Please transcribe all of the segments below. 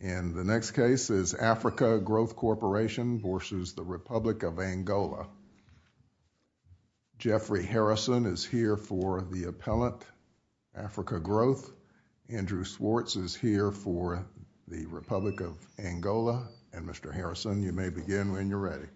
And the next case is Africa Growth Corporation versus the Republic of Angola. Jeffrey Harrison is here for the appellant, Africa Growth. Andrew Swartz is here for the Republic of Angola. And Mr. Harrison, you may begin when you're ready.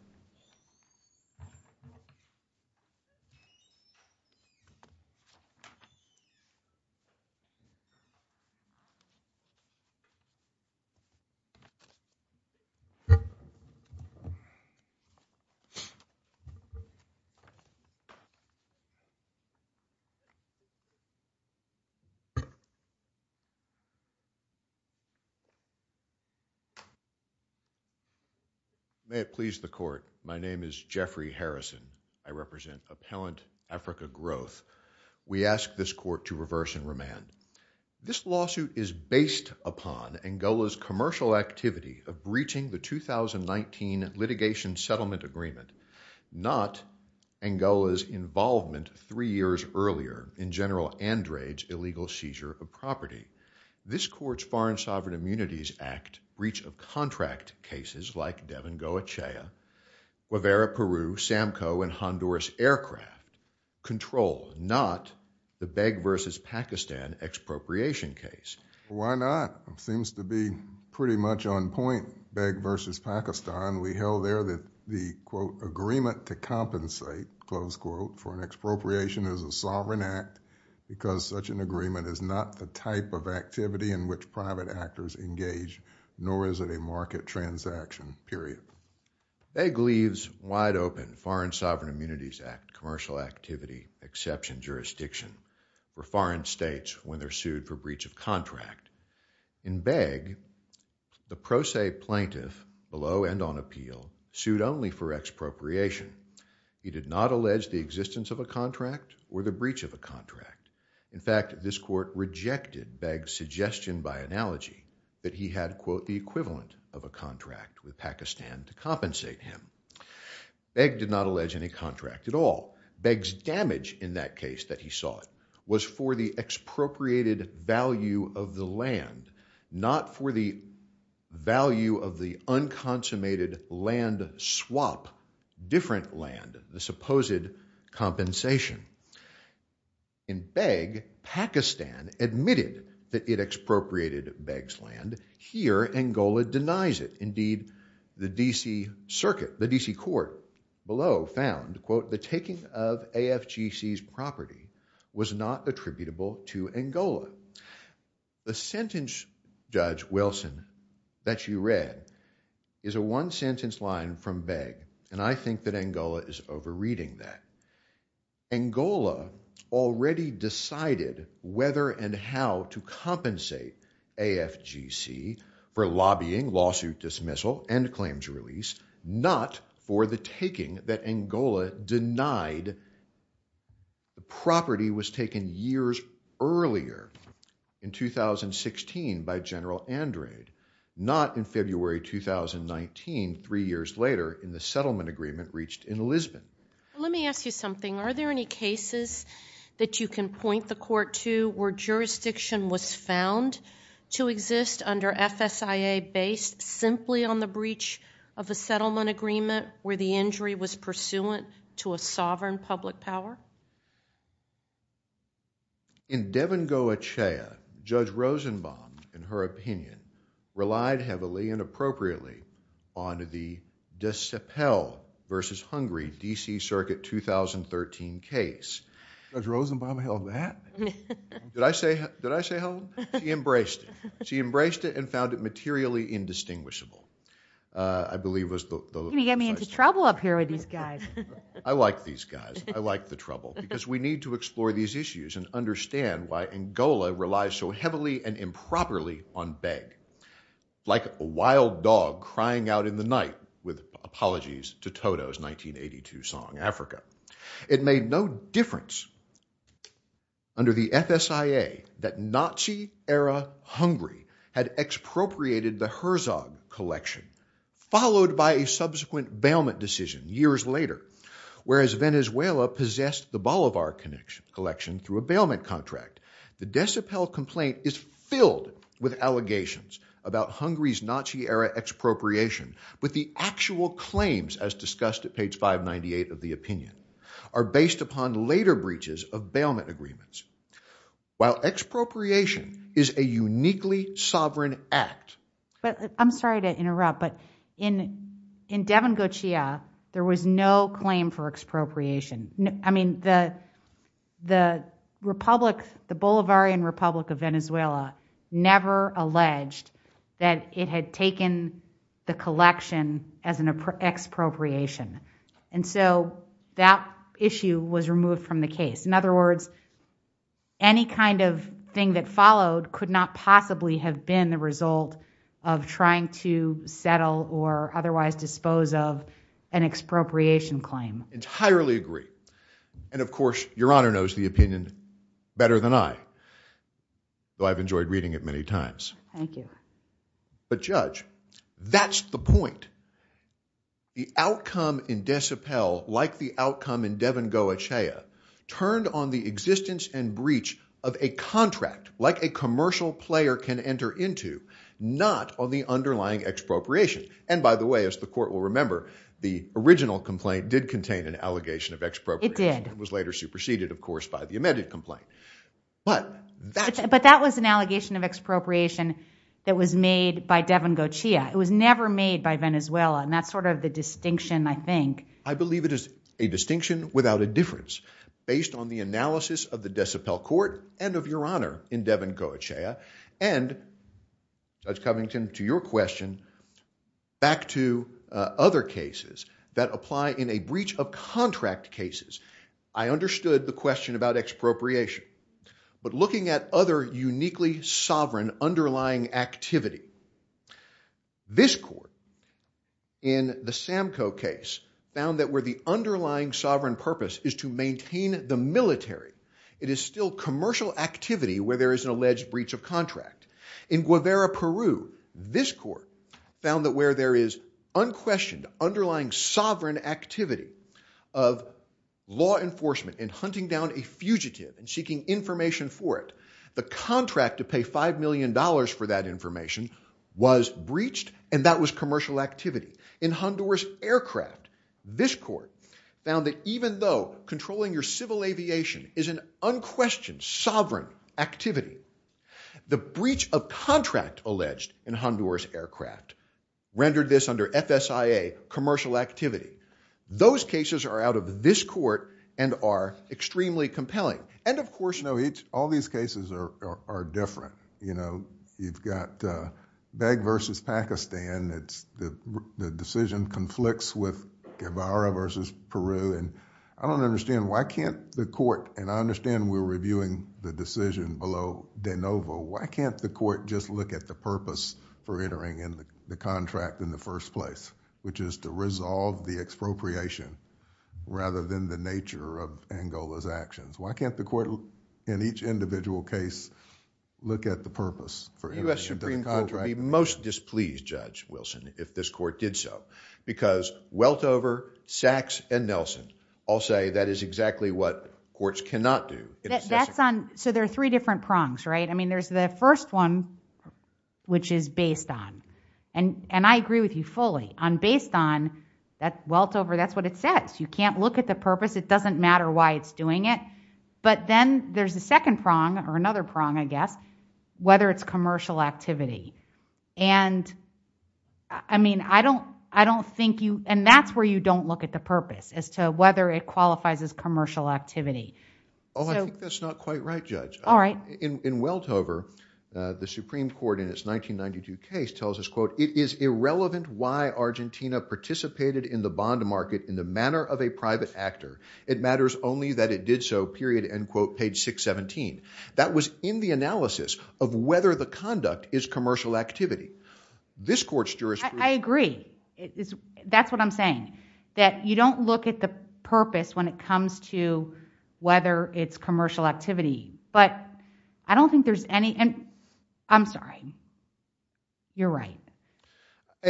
May it please the court, my name is Jeffrey Harrison. I represent appellant, Africa Growth. We ask this court to reverse and remand. This lawsuit is based upon Angola's commercial activity of breaching the 2019 litigation settlement agreement, not Angola's involvement three years earlier in General Andrade's illegal seizure of property. This court's Foreign Sovereign Immunities Act breach of contract cases like Devon Goetia, Wavera, Peru, Samco, and Honduras Aircraft Control, not the Beg versus Pakistan expropriation case. Why not? Seems to be pretty much on point, Beg versus Pakistan. We held there that the, quote, agreement to compensate, close quote, for an expropriation is a sovereign act because such an agreement is not the type of activity in which private actors engage, nor is it a market transaction, period. Beg leaves wide open, Foreign Sovereign Immunities Act commercial activity exception jurisdiction for foreign states when they're sued for breach of contract. In Beg, the pro se plaintiff below and on appeal sued only for expropriation. He did not allege the existence of a contract or the breach of a contract. In fact, this court rejected Beg's suggestion by analogy that he had, quote, the equivalent of a contract with Pakistan to compensate him. Beg did not allege any contract at all. Beg's damage in that case that he sought was for the expropriated value of the land, not for the value of the unconsummated land swap, different land, the supposed compensation. In Beg, Pakistan admitted that it expropriated Beg's land. Here, Angola denies it. Indeed, the DC circuit, the DC court below found, quote, the taking of AFGC's property was not attributable to Angola. The sentence, Judge Wilson, that you read is a one sentence line from Beg. And I think that Angola is overreading that. Angola already decided whether and how to compensate AFGC for lobbying, lawsuit dismissal, and claims release, not for the taking that Angola denied the property was taken years earlier in 2016 by General Andrade, not in February 2019, three years later in the settlement agreement reached in Lisbon. Let me ask you something. Are there any cases that you can point the court to where jurisdiction was found to exist under FSIA based simply on the breach of a settlement agreement where the injury was pursuant to a sovereign public power? In Devon, Goetia, Judge Rosenbaum, in her opinion, relied heavily and appropriately on the DeCepel versus Hungary DC Circuit 2013 case. Judge Rosenbaum held that? Did I say hold? She embraced it. She embraced it and found it materially indistinguishable, I believe was the precise term. You're going to get me into trouble up here with these guys. I like these guys. I like the trouble. Because we need to explore these issues and understand why Angola relies so heavily and improperly on Beg, like a wild dog crying out in the night with apologies to Toto's 1982 song, Africa. It made no difference under the FSIA that Nazi-era Hungary had expropriated the Herzog collection, followed by a subsequent bailment decision years later. Whereas Venezuela possessed the Bolivar collection through a bailment contract, the DeCepel complaint is filled with allegations about Hungary's Nazi-era expropriation with the actual claims as discussed at page 598 of the opinion are based upon later breaches of bailment agreements. While expropriation is a uniquely sovereign act. I'm sorry to interrupt, but in Devon, Goetia there was no claim for expropriation. I mean, the Bolivarian Republic of Venezuela never alleged that it had taken the collection as an expropriation. And so that issue was removed from the case. In other words, any kind of thing that followed could not possibly have been the result of trying to settle or otherwise dispose of an expropriation claim. Entirely agree. And of course, Your Honor knows the opinion better than I, though I've enjoyed reading it many times. Thank you. But Judge, that's the point. The outcome in DeCepel, like the outcome in Devon, Goetia, turned on the existence and breach of a contract like a commercial player can enter into, not on the underlying expropriation. And by the way, as the court will remember, the original complaint did contain an allegation of expropriation. It did. It was later superseded, of course, by the amended complaint. But that's it. But that was an allegation of expropriation that was made by Devon, Goetia. It was never made by Venezuela. And that's sort of the distinction, I think. I believe it is a distinction without a difference. Based on the analysis of the DeCepel court and of Your Honor in Devon, Goetia, and, Judge Covington, to your question, back to other cases that apply in a breach of contract cases, I understood the question about expropriation. But looking at other uniquely sovereign underlying activity, this court in the Samco case found that where the underlying sovereign purpose is to maintain the military, it is still commercial activity where there is an alleged breach of contract. In Guevara, Peru, this court found that where there is unquestioned underlying sovereign activity of law enforcement in hunting down a fugitive and seeking information for it, the contract to pay $5 million for that information was breached, and that was commercial activity. In Honduras Aircraft, this court found that even though controlling your civil aviation is an unquestioned sovereign activity, the breach of contract alleged in Honduras Aircraft rendered this under FSIA commercial activity. Those cases are out of this court and are extremely compelling. And of course, all these cases are different. You've got Beg versus Pakistan. The decision conflicts with Guevara versus Peru. And I don't understand, why can't the court, and I understand we're reviewing the decision below De Novo, why can't the court just look at the purpose for entering in the contract in the first place, which is to resolve the expropriation rather than the nature of Angola's actions? Why can't the court, in each individual case, look at the purpose for entering into the contract? The U.S. Supreme Court would be most displeased, Judge Wilson, if this court did so. Because Weltover, Sachs, and Nelson all say that is exactly what courts cannot do. So there are three different prongs, right? There's the first one, which is based on. And I agree with you fully. On based on, Weltover, that's what it says. You can't look at the purpose. It doesn't matter why it's doing it. But then there's a second prong, or another prong, I guess, whether it's commercial activity. And I mean, I don't think you, and that's where you don't look at the purpose, as to whether it qualifies as commercial activity. Oh, I think that's not quite right, Judge. All right. In Weltover, the Supreme Court, in its 1992 case, tells us, quote, it is irrelevant why Argentina participated in the bond market in the manner of a private actor. It matters only that it did so, period, end quote, page 617. That was in the analysis of whether the conduct is commercial activity. This court's jurisprudence. I agree. That's what I'm saying, that you don't look at the purpose when it comes to whether it's commercial activity. But I don't think there's any, and I'm sorry. You're right.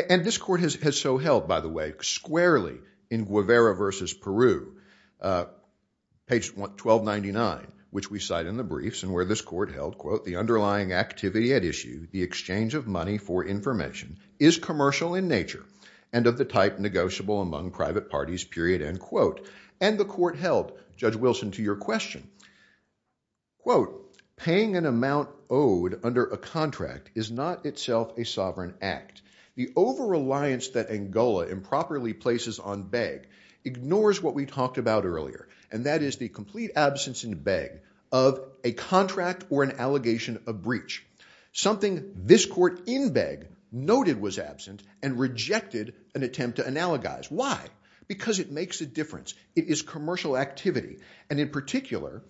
And this court has so held, by the way, squarely in Guevara versus Peru, page 1299, which we cite in the briefs, and where this court held, quote, the underlying activity at issue, the exchange of money for information, is commercial in nature, and of the type negotiable among private parties, period, end quote. And the court held, Judge Wilson, to your question, quote, paying an amount owed under a contract is not itself a sovereign act. The over-reliance that Angola improperly places on BEG ignores what we talked about earlier, and that is the complete absence in BEG of a contract or an allegation of breach. Something this court in BEG noted was absent and rejected an attempt to analogize. Why? Because it makes a difference. It is commercial activity. And in particular,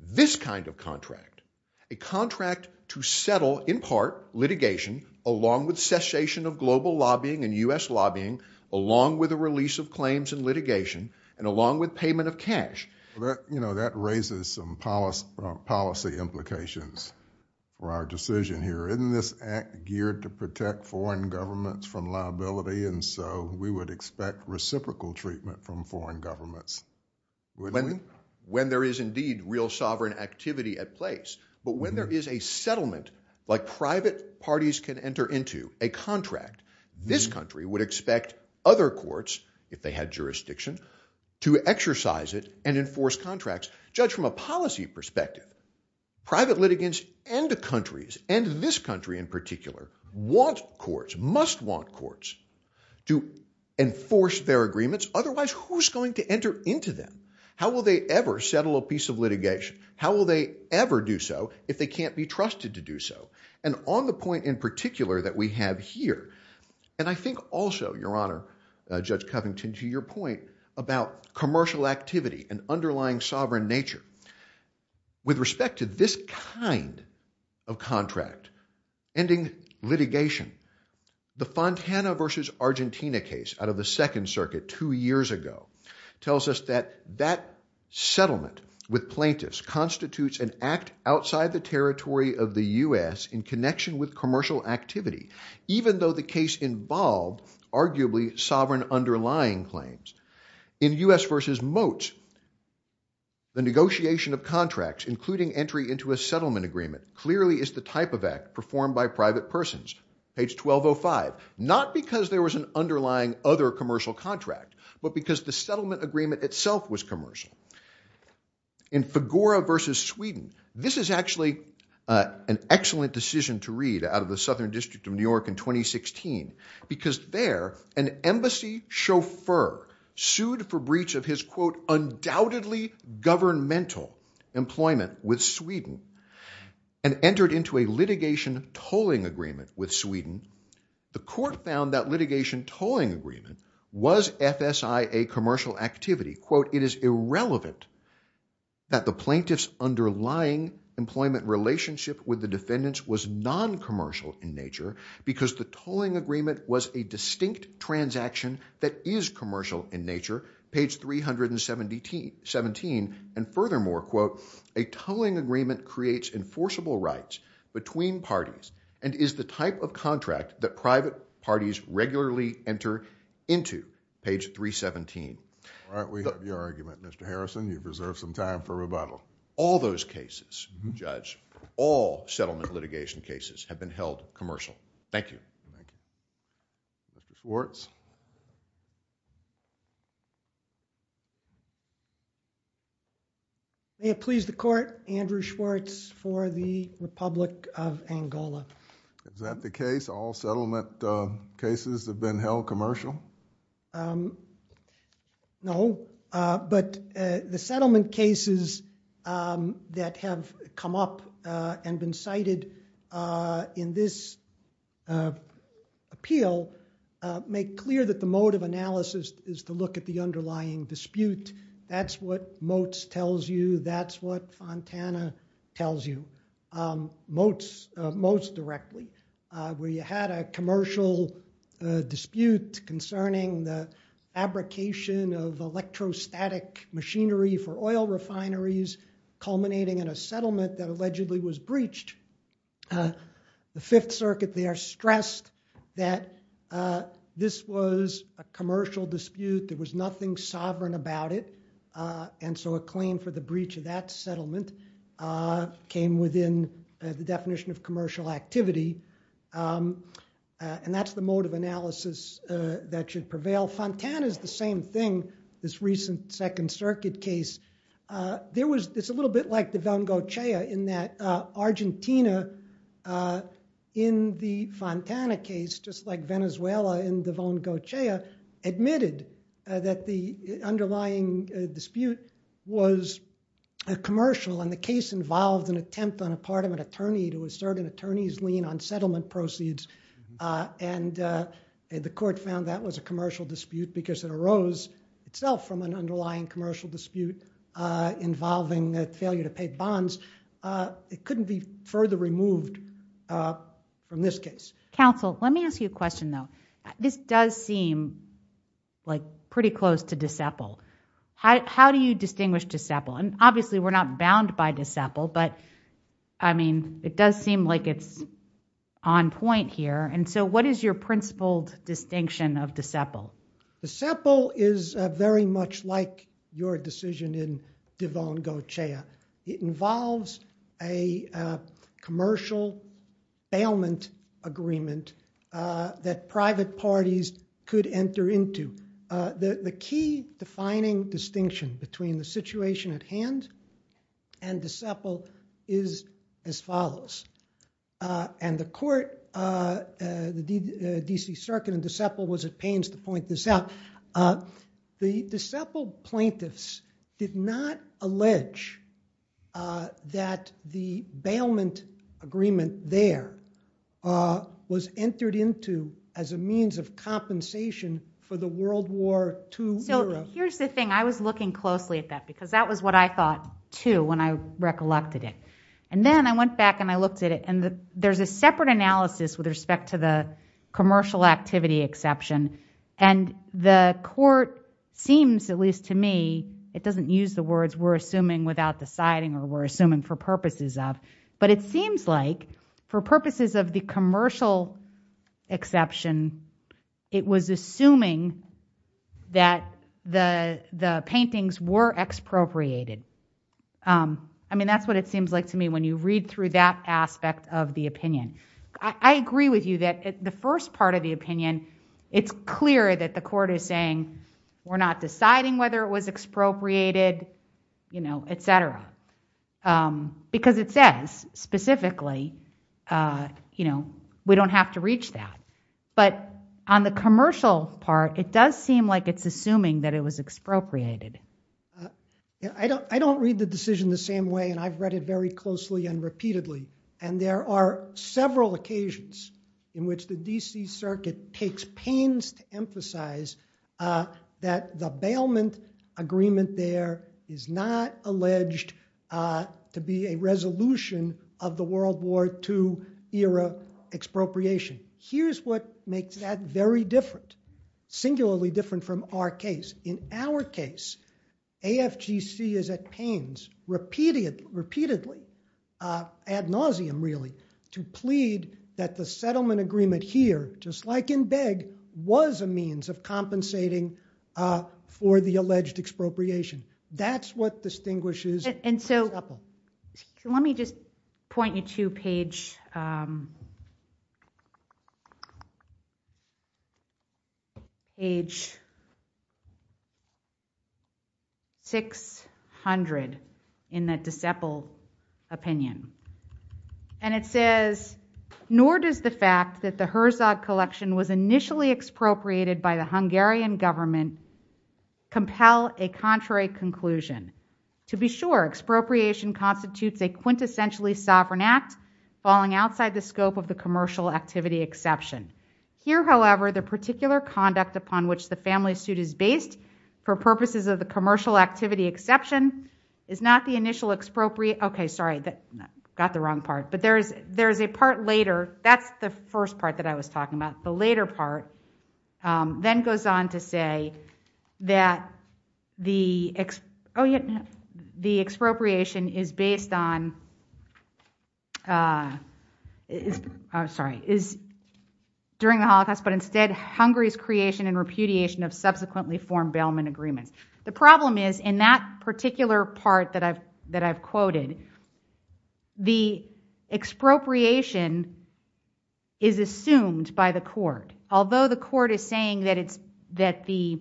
this kind of contract, a contract to settle, in part, litigation, along with cessation of global lobbying and US lobbying, along with the release of claims and litigation, and along with payment of cash. You know, that raises some policy implications for our decision here. Isn't this act geared to protect foreign governments from liability? And so we would expect reciprocal treatment from foreign governments, wouldn't we? When there is indeed real sovereign activity at place. But when there is a settlement, like private parties can enter into a contract, this country would expect other courts, if they had jurisdiction, to exercise it and enforce contracts. Judge from a policy perspective, private litigants and the countries, and this country in particular, want courts, must want courts, to enforce their agreements. Otherwise, who's going to enter into them? How will they ever settle a piece of litigation? How will they ever do so, if they can't be trusted to do so? And on the point in particular that we have here, and I think also, Your Honor, Judge Covington, to your point about commercial activity and underlying sovereign nature. With respect to this kind of contract, ending litigation, the Fontana versus Argentina case out of the Second Circuit two years ago, tells us that that settlement with plaintiffs constitutes an act outside the territory of the U.S. in connection with commercial activity, even though the case involved, arguably, sovereign underlying claims. In U.S. versus Moat, the negotiation of contracts, including entry into a settlement agreement, clearly is the type of act performed by private persons. Page 1205. Not because there was an underlying other commercial contract, but because the settlement agreement itself was commercial. In Fagora versus Sweden, this is actually an excellent decision to read out of the Southern District of New York in 2016, because there, an embassy chauffeur sued for breach of his, quote, undoubtedly governmental employment with Sweden, and entered into a litigation tolling agreement with Sweden. The court found that litigation tolling agreement was FSIA commercial activity. Quote, it is irrelevant that the plaintiff's underlying employment relationship with the defendants was non-commercial in nature, because the tolling agreement was a distinct transaction that is commercial in nature. Page 317. And furthermore, quote, a tolling agreement creates enforceable rights between parties, and is the type of contract that private parties regularly enter into. Page 317. All right, we have your argument, Mr. Harrison. You've reserved some time for rebuttal. All those cases, Judge, all settlement litigation cases have been held commercial. Thank you. Thank you. Mr. Schwartz. May it please the court, Andrew Schwartz for the Republic of Angola. Is that the case, all settlement cases have been held commercial? No, but the settlement cases that have come up and been cited in this appeal make clear that the mode of analysis is to look at the underlying dispute. That's what Motes tells you. That's what Fontana tells you. Motes directly. We had a commercial dispute concerning the fabrication of electrostatic machinery for oil refineries culminating in a settlement that allegedly was breached. The Fifth Circuit there stressed that this was a commercial dispute. There was nothing sovereign about it. And so a claim for the breach of that settlement came within the definition of commercial activity. And that's the mode of analysis that should prevail. Fontana's the same thing, this recent Second Circuit case. There was, it's a little bit like the Vongochea in that Argentina in the Fontana case, just like Venezuela in the Vongochea, admitted that the underlying dispute was a commercial and the case involved an attempt on a part of an attorney to assert an attorney's lien on settlement proceeds. And the court found that was a commercial dispute because it arose itself from an underlying commercial dispute involving the failure to pay bonds. It couldn't be further removed from this case. Council, let me ask you a question though. This does seem like pretty close to De Sepul. How do you distinguish De Sepul? And obviously we're not bound by De Sepul, but I mean, it does seem like it's on point here. And so what is your principled distinction of De Sepul? De Sepul is very much like your decision in Vongochea. It involves a commercial bailment agreement that private parties could enter into. The key defining distinction between the situation at hand and De Sepul is as follows. And the court, the D.C. Circuit and De Sepul was at pains to point this out. The De Sepul plaintiffs did not allege that the bailment agreement there was entered into as a means of compensation for the World War II Europe. Here's the thing, I was looking closely at that because that was what I thought too when I recollected it. And then I went back and I looked at it and there's a separate analysis with respect to the commercial activity exception. And the court seems, at least to me, it doesn't use the words we're assuming without deciding or we're assuming for purposes of, but it seems like for purposes of the commercial exception, it was assuming that the paintings were expropriated. I mean, that's what it seems like to me when you read through that aspect of the opinion. I agree with you that the first part of the opinion, it's clear that the court is saying we're not deciding whether it was expropriated, et cetera. Because it says specifically, we don't have to reach that. But on the commercial part, it does seem like it's assuming that it was expropriated. I don't read the decision the same way and I've read it very closely and repeatedly. And there are several occasions in which the DC Circuit takes pains to emphasize that the bailment agreement there is not alleged to be a resolution of the World War II era expropriation. Here's what makes that very different, singularly different from our case. In our case, AFGC is at pains repeatedly, ad nauseum really, to plead that the settlement agreement here, just like in Begg, was a means of compensating for the alleged expropriation. That's what distinguishes the couple. Let me just point you to page, page 600 in the DeCepel opinion. And it says, nor does the fact that the Herzog collection was initially expropriated by the Hungarian government compel a contrary conclusion. To be sure, expropriation constitutes a quintessentially sovereign act falling outside the scope of the commercial activity exception. Here, however, the particular conduct upon which the family suit is based for purposes of the commercial activity exception is not the initial expropriate, okay, sorry, got the wrong part. But there's a part later, that's the first part that I was talking about. The later part then goes on to say that the, oh yeah, the expropriation is based on, sorry, is during the Holocaust, but instead Hungary's creation and repudiation of subsequently formed bailment agreements. The problem is in that particular part that I've quoted, the expropriation is assumed by the court. Although the court is saying that it's, that the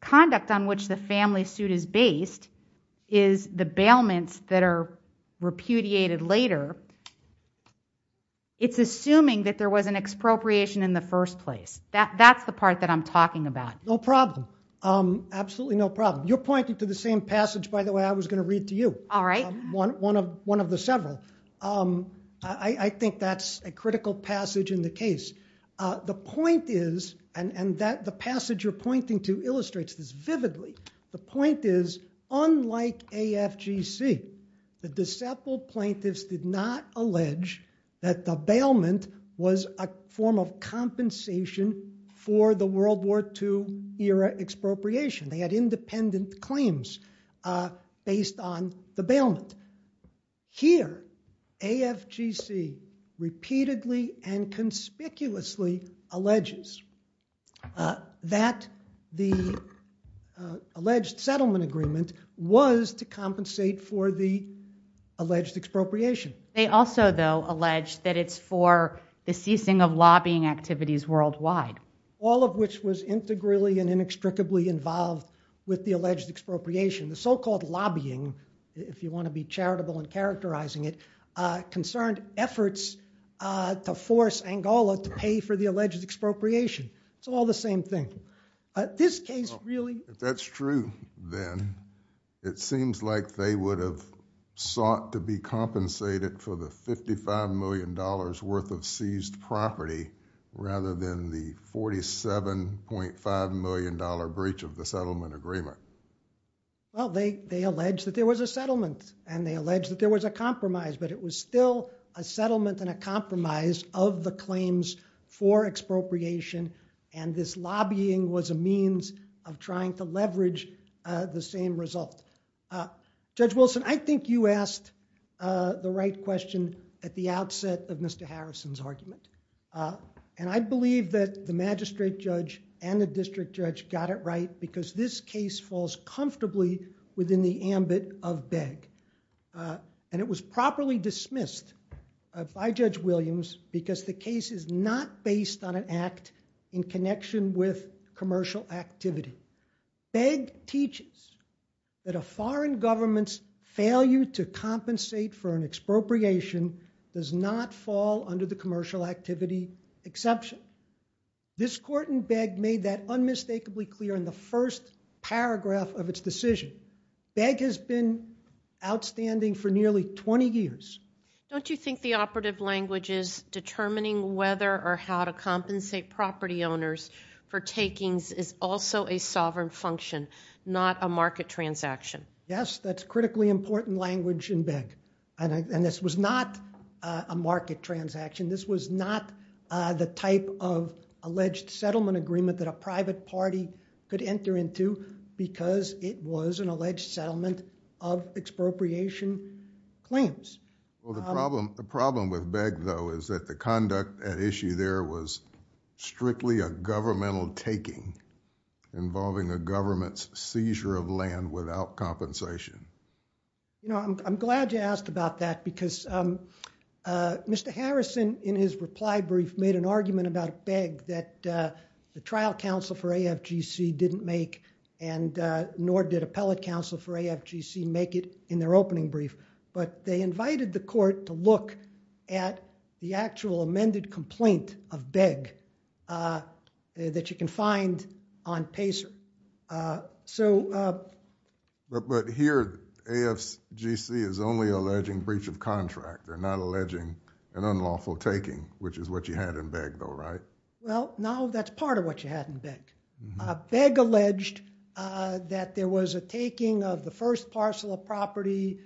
conduct on which the family suit is based is the bailments that are repudiated later, it's assuming that there was an expropriation in the first place. That's the part that I'm talking about. No problem, absolutely no problem. You're pointing to the same passage, by the way, I was gonna read to you. All right. One of the several. I think that's a critical passage in the case. The point is, and the passage you're pointing to illustrates this vividly. The point is, unlike AFGC, the De Sapo plaintiffs did not allege that the bailment was a form of compensation for the World War II era expropriation. They had independent claims based on the bailment. Here, AFGC repeatedly and conspicuously alleges that the alleged settlement agreement was to compensate for the alleged expropriation. They also, though, allege that it's for the ceasing of lobbying activities worldwide. All of which was integrally and inextricably involved with the alleged expropriation. The so-called lobbying, if you wanna be charitable in characterizing it, concerned efforts to force Angola to pay for the alleged expropriation. It's all the same thing. This case really. If that's true, then, it seems like they would have sought to be compensated for the $55 million worth of seized property, rather than the $47.5 million breach of the settlement agreement. Well, they allege that there was a settlement. And they allege that there was a compromise. But it was still a settlement and a compromise of the claims for expropriation. And this lobbying was a means of trying to leverage the same result. Judge Wilson, I think you asked the right question at the outset of Mr. Harrison's argument. And I believe that the magistrate judge and the district judge got it right, because this case falls comfortably within the ambit of Begg. And it was properly dismissed by Judge Williams, because the case is not based on an act in connection with commercial activity. Begg teaches that a foreign government's failure to compensate for an expropriation does not fall under the commercial activity exception. This court in Begg made that unmistakably clear in the first paragraph of its decision. Begg has been outstanding for nearly 20 years. Don't you think the operative language is determining whether or how to compensate property owners for takings is also a sovereign function, not a market transaction? Yes, that's critically important language in Begg. And this was not a market transaction. This was not the type of alleged settlement agreement that a private party could enter into, because it was an alleged settlement of expropriation claims. Well, the problem with Begg, though, is that the conduct at issue there was strictly a governmental taking, involving a government's seizure of land without compensation. You know, I'm glad you asked about that, because Mr. Harrison, in his reply brief, made an argument about Begg that the trial counsel for AFGC didn't make, and nor did appellate counsel for AFGC make it in their opening brief. But they invited the court to look at the actual amended complaint of Begg that you can find on Pacer. But here, AFGC is only alleging breach of contract. They're not alleging an unlawful taking, which is what you had in Begg, though, right? Well, no, that's part of what you had in Begg. Begg alleged that there was a taking of the first parcel of property.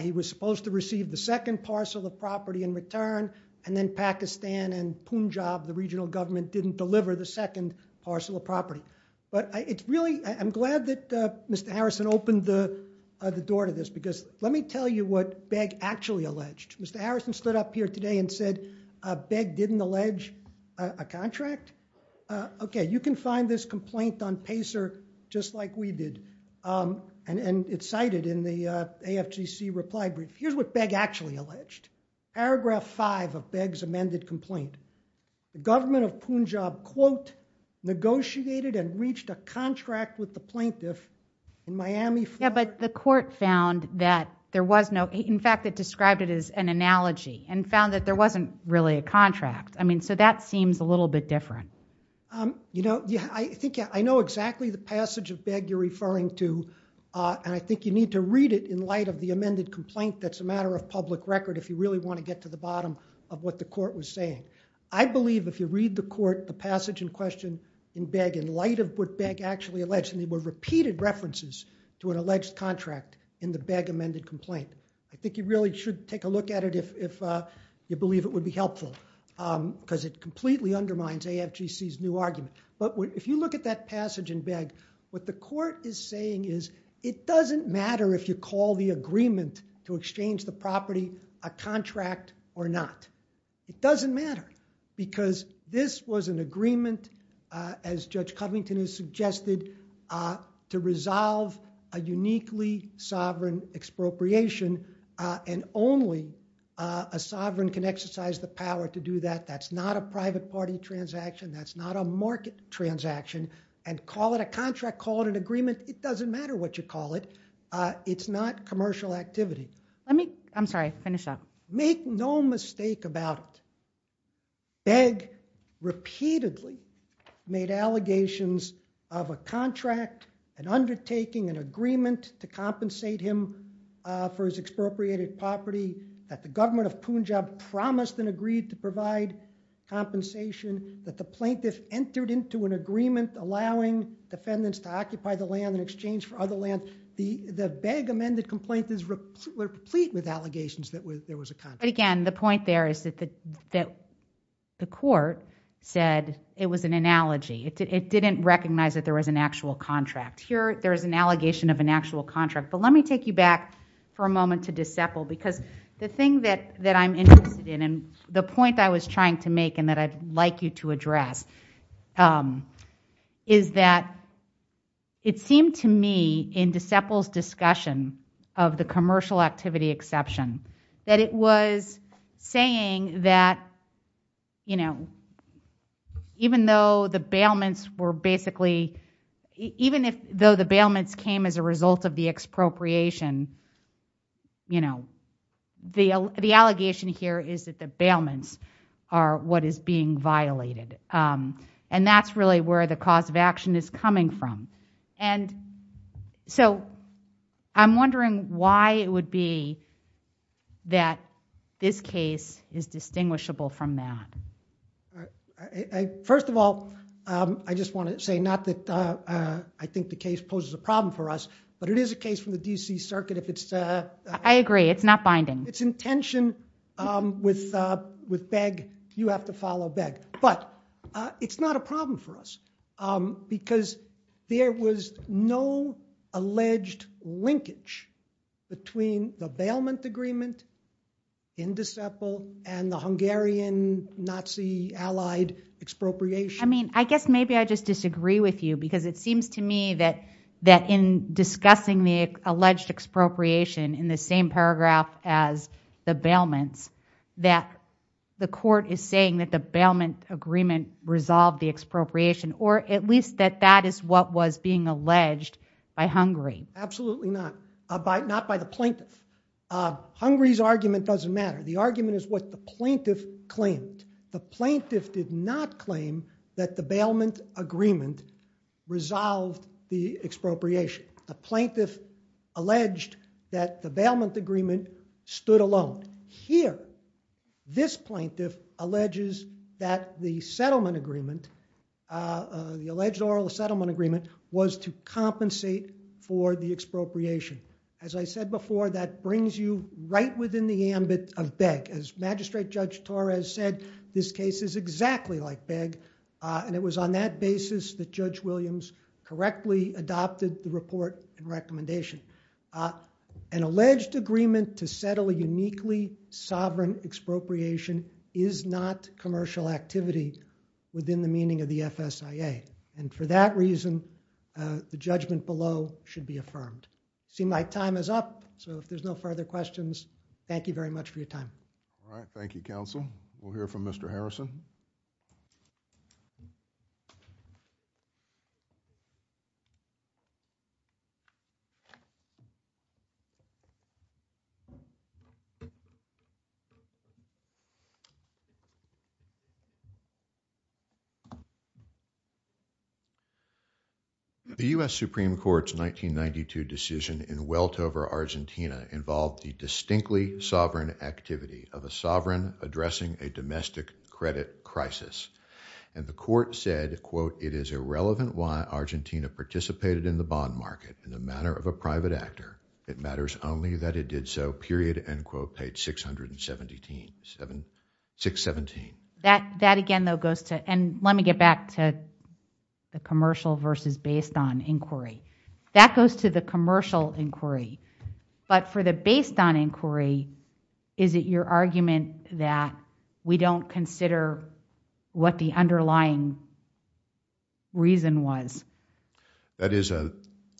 He was supposed to receive the second parcel of property in return. And then Pakistan and Punjab, the regional government, didn't deliver the second parcel of property. But it's really, I'm glad that Mr. Harrison opened the door to this, because let me tell you what Begg actually alleged. Mr. Harrison stood up here today and said, Begg didn't allege a contract. Okay, you can find this complaint on Pacer just like we did. And it's cited in the AFGC reply brief. Here's what Begg actually alleged. Paragraph five of Begg's amended complaint. The government of Punjab, quote, negotiated and reached a contract with the plaintiff in Miami. Yeah, but the court found that there was no, in fact, it described it as an analogy and found that there wasn't really a contract. I mean, so that seems a little bit different. You know, I think I know exactly the passage of Begg you're referring to. And I think you need to read it in light of the amended complaint that's a matter of public record if you really want to get to the bottom of what the court was saying. I believe if you read the court, the passage in question in Begg, in light of what Begg actually alleged, and there were repeated references to an alleged contract in the Begg amended complaint. I think you really should take a look at it if you believe it would be helpful because it completely undermines AFGC's new argument. But if you look at that passage in Begg, what the court is saying is it doesn't matter if you call the agreement to exchange the property a contract or not. It doesn't matter because this was an agreement, as Judge Covington has suggested, to resolve a uniquely sovereign expropriation and only a sovereign can exercise the power to do that. That's not a private party transaction. That's not a market transaction. And call it a contract, call it an agreement, it doesn't matter what you call it. It's not commercial activity. Let me, I'm sorry, finish up. Make no mistake about it. Begg repeatedly made allegations of a contract, an undertaking, an agreement to compensate him for his expropriated property that the government of Punjab promised and agreed to provide compensation that the plaintiff entered into an agreement allowing defendants to occupy the land in exchange for other land. The Begg amended complaint is replete with allegations that there was a contract. But again, the point there is that the court said it was an analogy. It didn't recognize that there was an actual contract. Here, there is an allegation of an actual contract. But let me take you back for a moment to DeSeppel because the thing that I'm interested in and the point I was trying to make and that I'd like you to address is that it seemed to me in DeSeppel's discussion of the commercial activity exception that it was saying that even though the bailments were basically, even though the bailments came as a result of the expropriation, the allegation here is that the bailments are what is being violated. And that's really where the cause of action is coming from. And so I'm wondering why it would be that this case is distinguishable from that. First of all, I just want to say, not that I think the case poses a problem for us, but it is a case from the D.C. Circuit. I agree, it's not binding. It's intention with Begg, you have to follow Begg. But it's not a problem for us because there was no alleged linkage between the bailment agreement in DeSeppel and the Hungarian Nazi allied expropriation. I mean, I guess maybe I just disagree with you because it seems to me that in discussing the alleged expropriation in the same paragraph as the bailments, that the court is saying that the bailment agreement resolved the expropriation or at least that that is what was being alleged by Hungary. Absolutely not, not by the plaintiff. Hungary's argument doesn't matter. The argument is what the plaintiff claimed. The plaintiff did not claim that the bailment agreement resolved the expropriation. The plaintiff alleged that the bailment agreement stood alone. Here, this plaintiff alleges that the settlement agreement, the alleged oral settlement agreement was to compensate for the expropriation. As I said before, that brings you right within the ambit of Begg. As Magistrate Judge Torres said, this case is exactly like Begg. And it was on that basis that Judge Williams correctly adopted the report and recommendation. An alleged agreement to settle a uniquely sovereign expropriation is not commercial activity within the meaning of the FSIA. And for that reason, the judgment below should be affirmed. Seem like time is up, so if there's no further questions, thank you very much for your time. All right, thank you, counsel. We'll hear from Mr. Harrison. The U.S. Supreme Court's 1992 decision in Weltover, Argentina involved the distinctly sovereign activity of a sovereign addressing a domestic credit crisis. And the court said, quote, it is irrelevant why Argentina participated in the bond market in the manner of a private actor. It matters only that it did so, period, end quote, page 617. That again, though, goes to, and let me get back to the commercial versus based on inquiry. That goes to the commercial inquiry. But for the based on inquiry, is it your argument that we don't consider what the underlying reason was? That is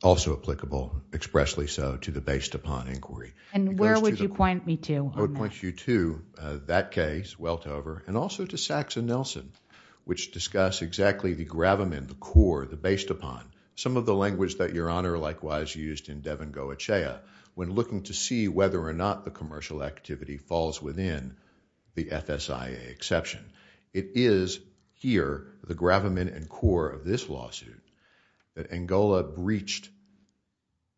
also applicable, expressly so, to the based upon inquiry. And where would you point me to? I would point you to that case, Weltover, and also to Sachs and Nelson, which discuss exactly the gravamen, the core, the based upon. Some of the language that your honor likewise used in Devon Goetia, when looking to see whether or not the commercial activity falls within the FSIA exception. It is here, the gravamen and core of this lawsuit, that Angola breached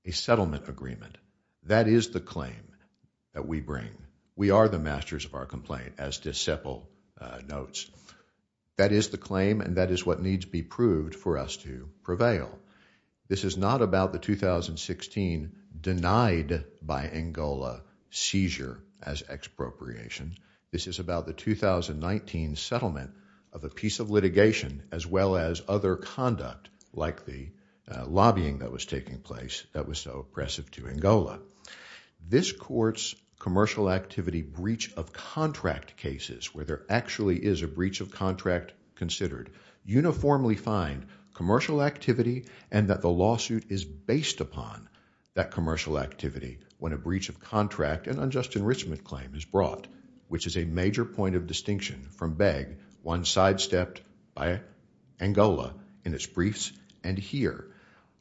a settlement agreement. That is the claim that we bring. We are the masters of our complaint, as Deciple notes. That is the claim, and that is what needs to be proved for us to prevail. This is not about the 2016, denied by Angola, seizure as expropriation. This is about the 2019 settlement of a piece of litigation, as well as other conduct, like the lobbying that was taking place that was so oppressive to Angola. This court's commercial activity breach of contract cases, where there actually is a breach of contract considered, uniformly find commercial activity, and that the lawsuit is based upon that commercial activity, when a breach of contract and unjust enrichment claim is brought, which is a major point of distinction from BEG, one sidestepped by Angola in its briefs, and here.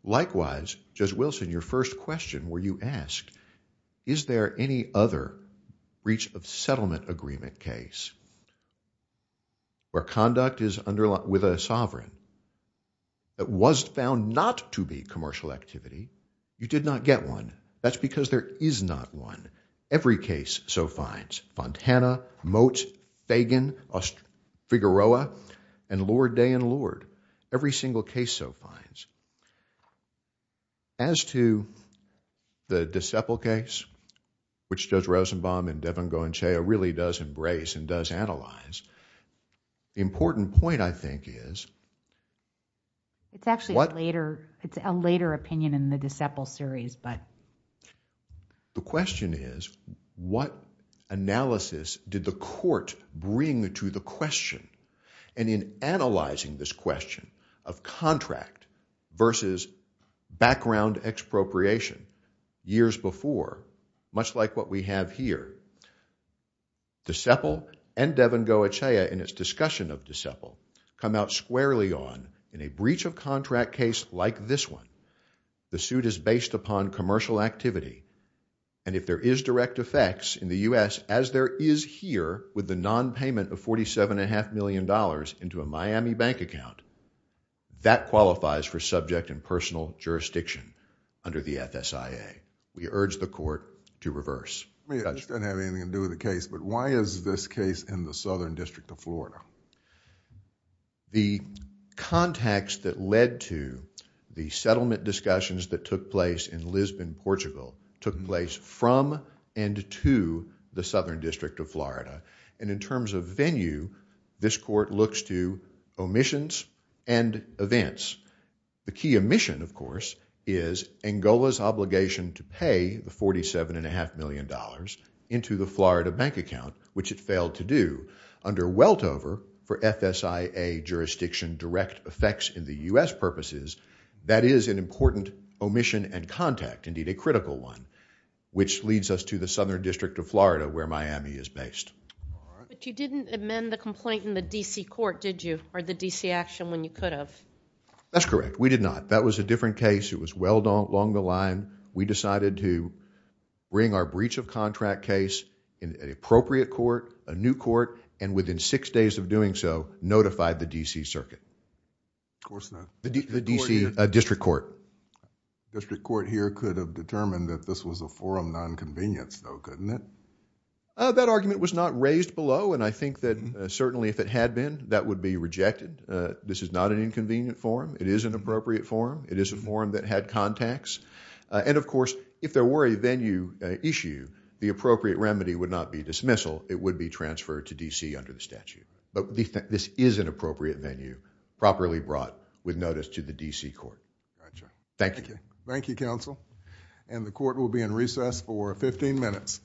Likewise, Judge Wilson, your first question, where you asked, is there any other breach of settlement agreement case, where conduct is under, with a sovereign, that was found not to be commercial activity, you did not get one. That's because there is not one. Every case so finds. Fontana, Mote, Fagan, Figueroa, and Lorde, Day, and Lorde. Every single case so finds. As to the DeCepel case, which Judge Rosenbaum and Devon Goenchea really does embrace and does analyze, important point, I think, is, what? It's actually a later opinion in the DeCepel series, but. The question is, what analysis did the court bring to the question? And in analyzing this question of contract, versus background expropriation, years before, much like what we have here, DeCepel and Devon Goenchea, in its discussion of DeCepel, come out squarely on, in a breach of contract case like this one, the suit is based upon commercial activity, and if there is direct effects in the U.S., as there is here, with the non-payment of $47.5 million into a Miami bank account, that qualifies for subject and personal jurisdiction under the FSIA. We urge the court to reverse. Judge. I mean, it doesn't have anything to do with the case, but why is this case in the Southern District of Florida? The context that led to the settlement discussions that took place in Lisbon, Portugal, took place from and to the Southern District of Florida, and in terms of venue, this court looks to omissions and events. The key omission, of course, is Angola's obligation to pay the $47.5 million into the Florida bank account, which it failed to do, under weltover for FSIA jurisdiction direct effects in the U.S. purposes, that is an important omission and contact, indeed a critical one, which leads us to the Southern District of Florida, where Miami is based. But you didn't amend the complaint in the D.C. court, did you, or the D.C. action, when you could have? That's correct, we did not. That was a different case. It was well along the line. We decided to bring our breach of contract case in an appropriate court, a new court, and within six days of doing so, notified the D.C. Circuit. Of course not. The D.C. District Court. District Court here could have determined that this was a forum non-convenience, though, couldn't it? That argument was not raised below, and I think that certainly if it had been, that would be rejected. This is not an inconvenient forum. It is an appropriate forum. It is a forum that had contacts. And of course, if there were a venue issue, the appropriate remedy would not be dismissal. It would be transferred to D.C. under the statute. But this is an appropriate venue, properly brought with notice to the D.C. court. Gotcha. Thank you. Thank you, counsel. And the court will be in recess for 15 minutes.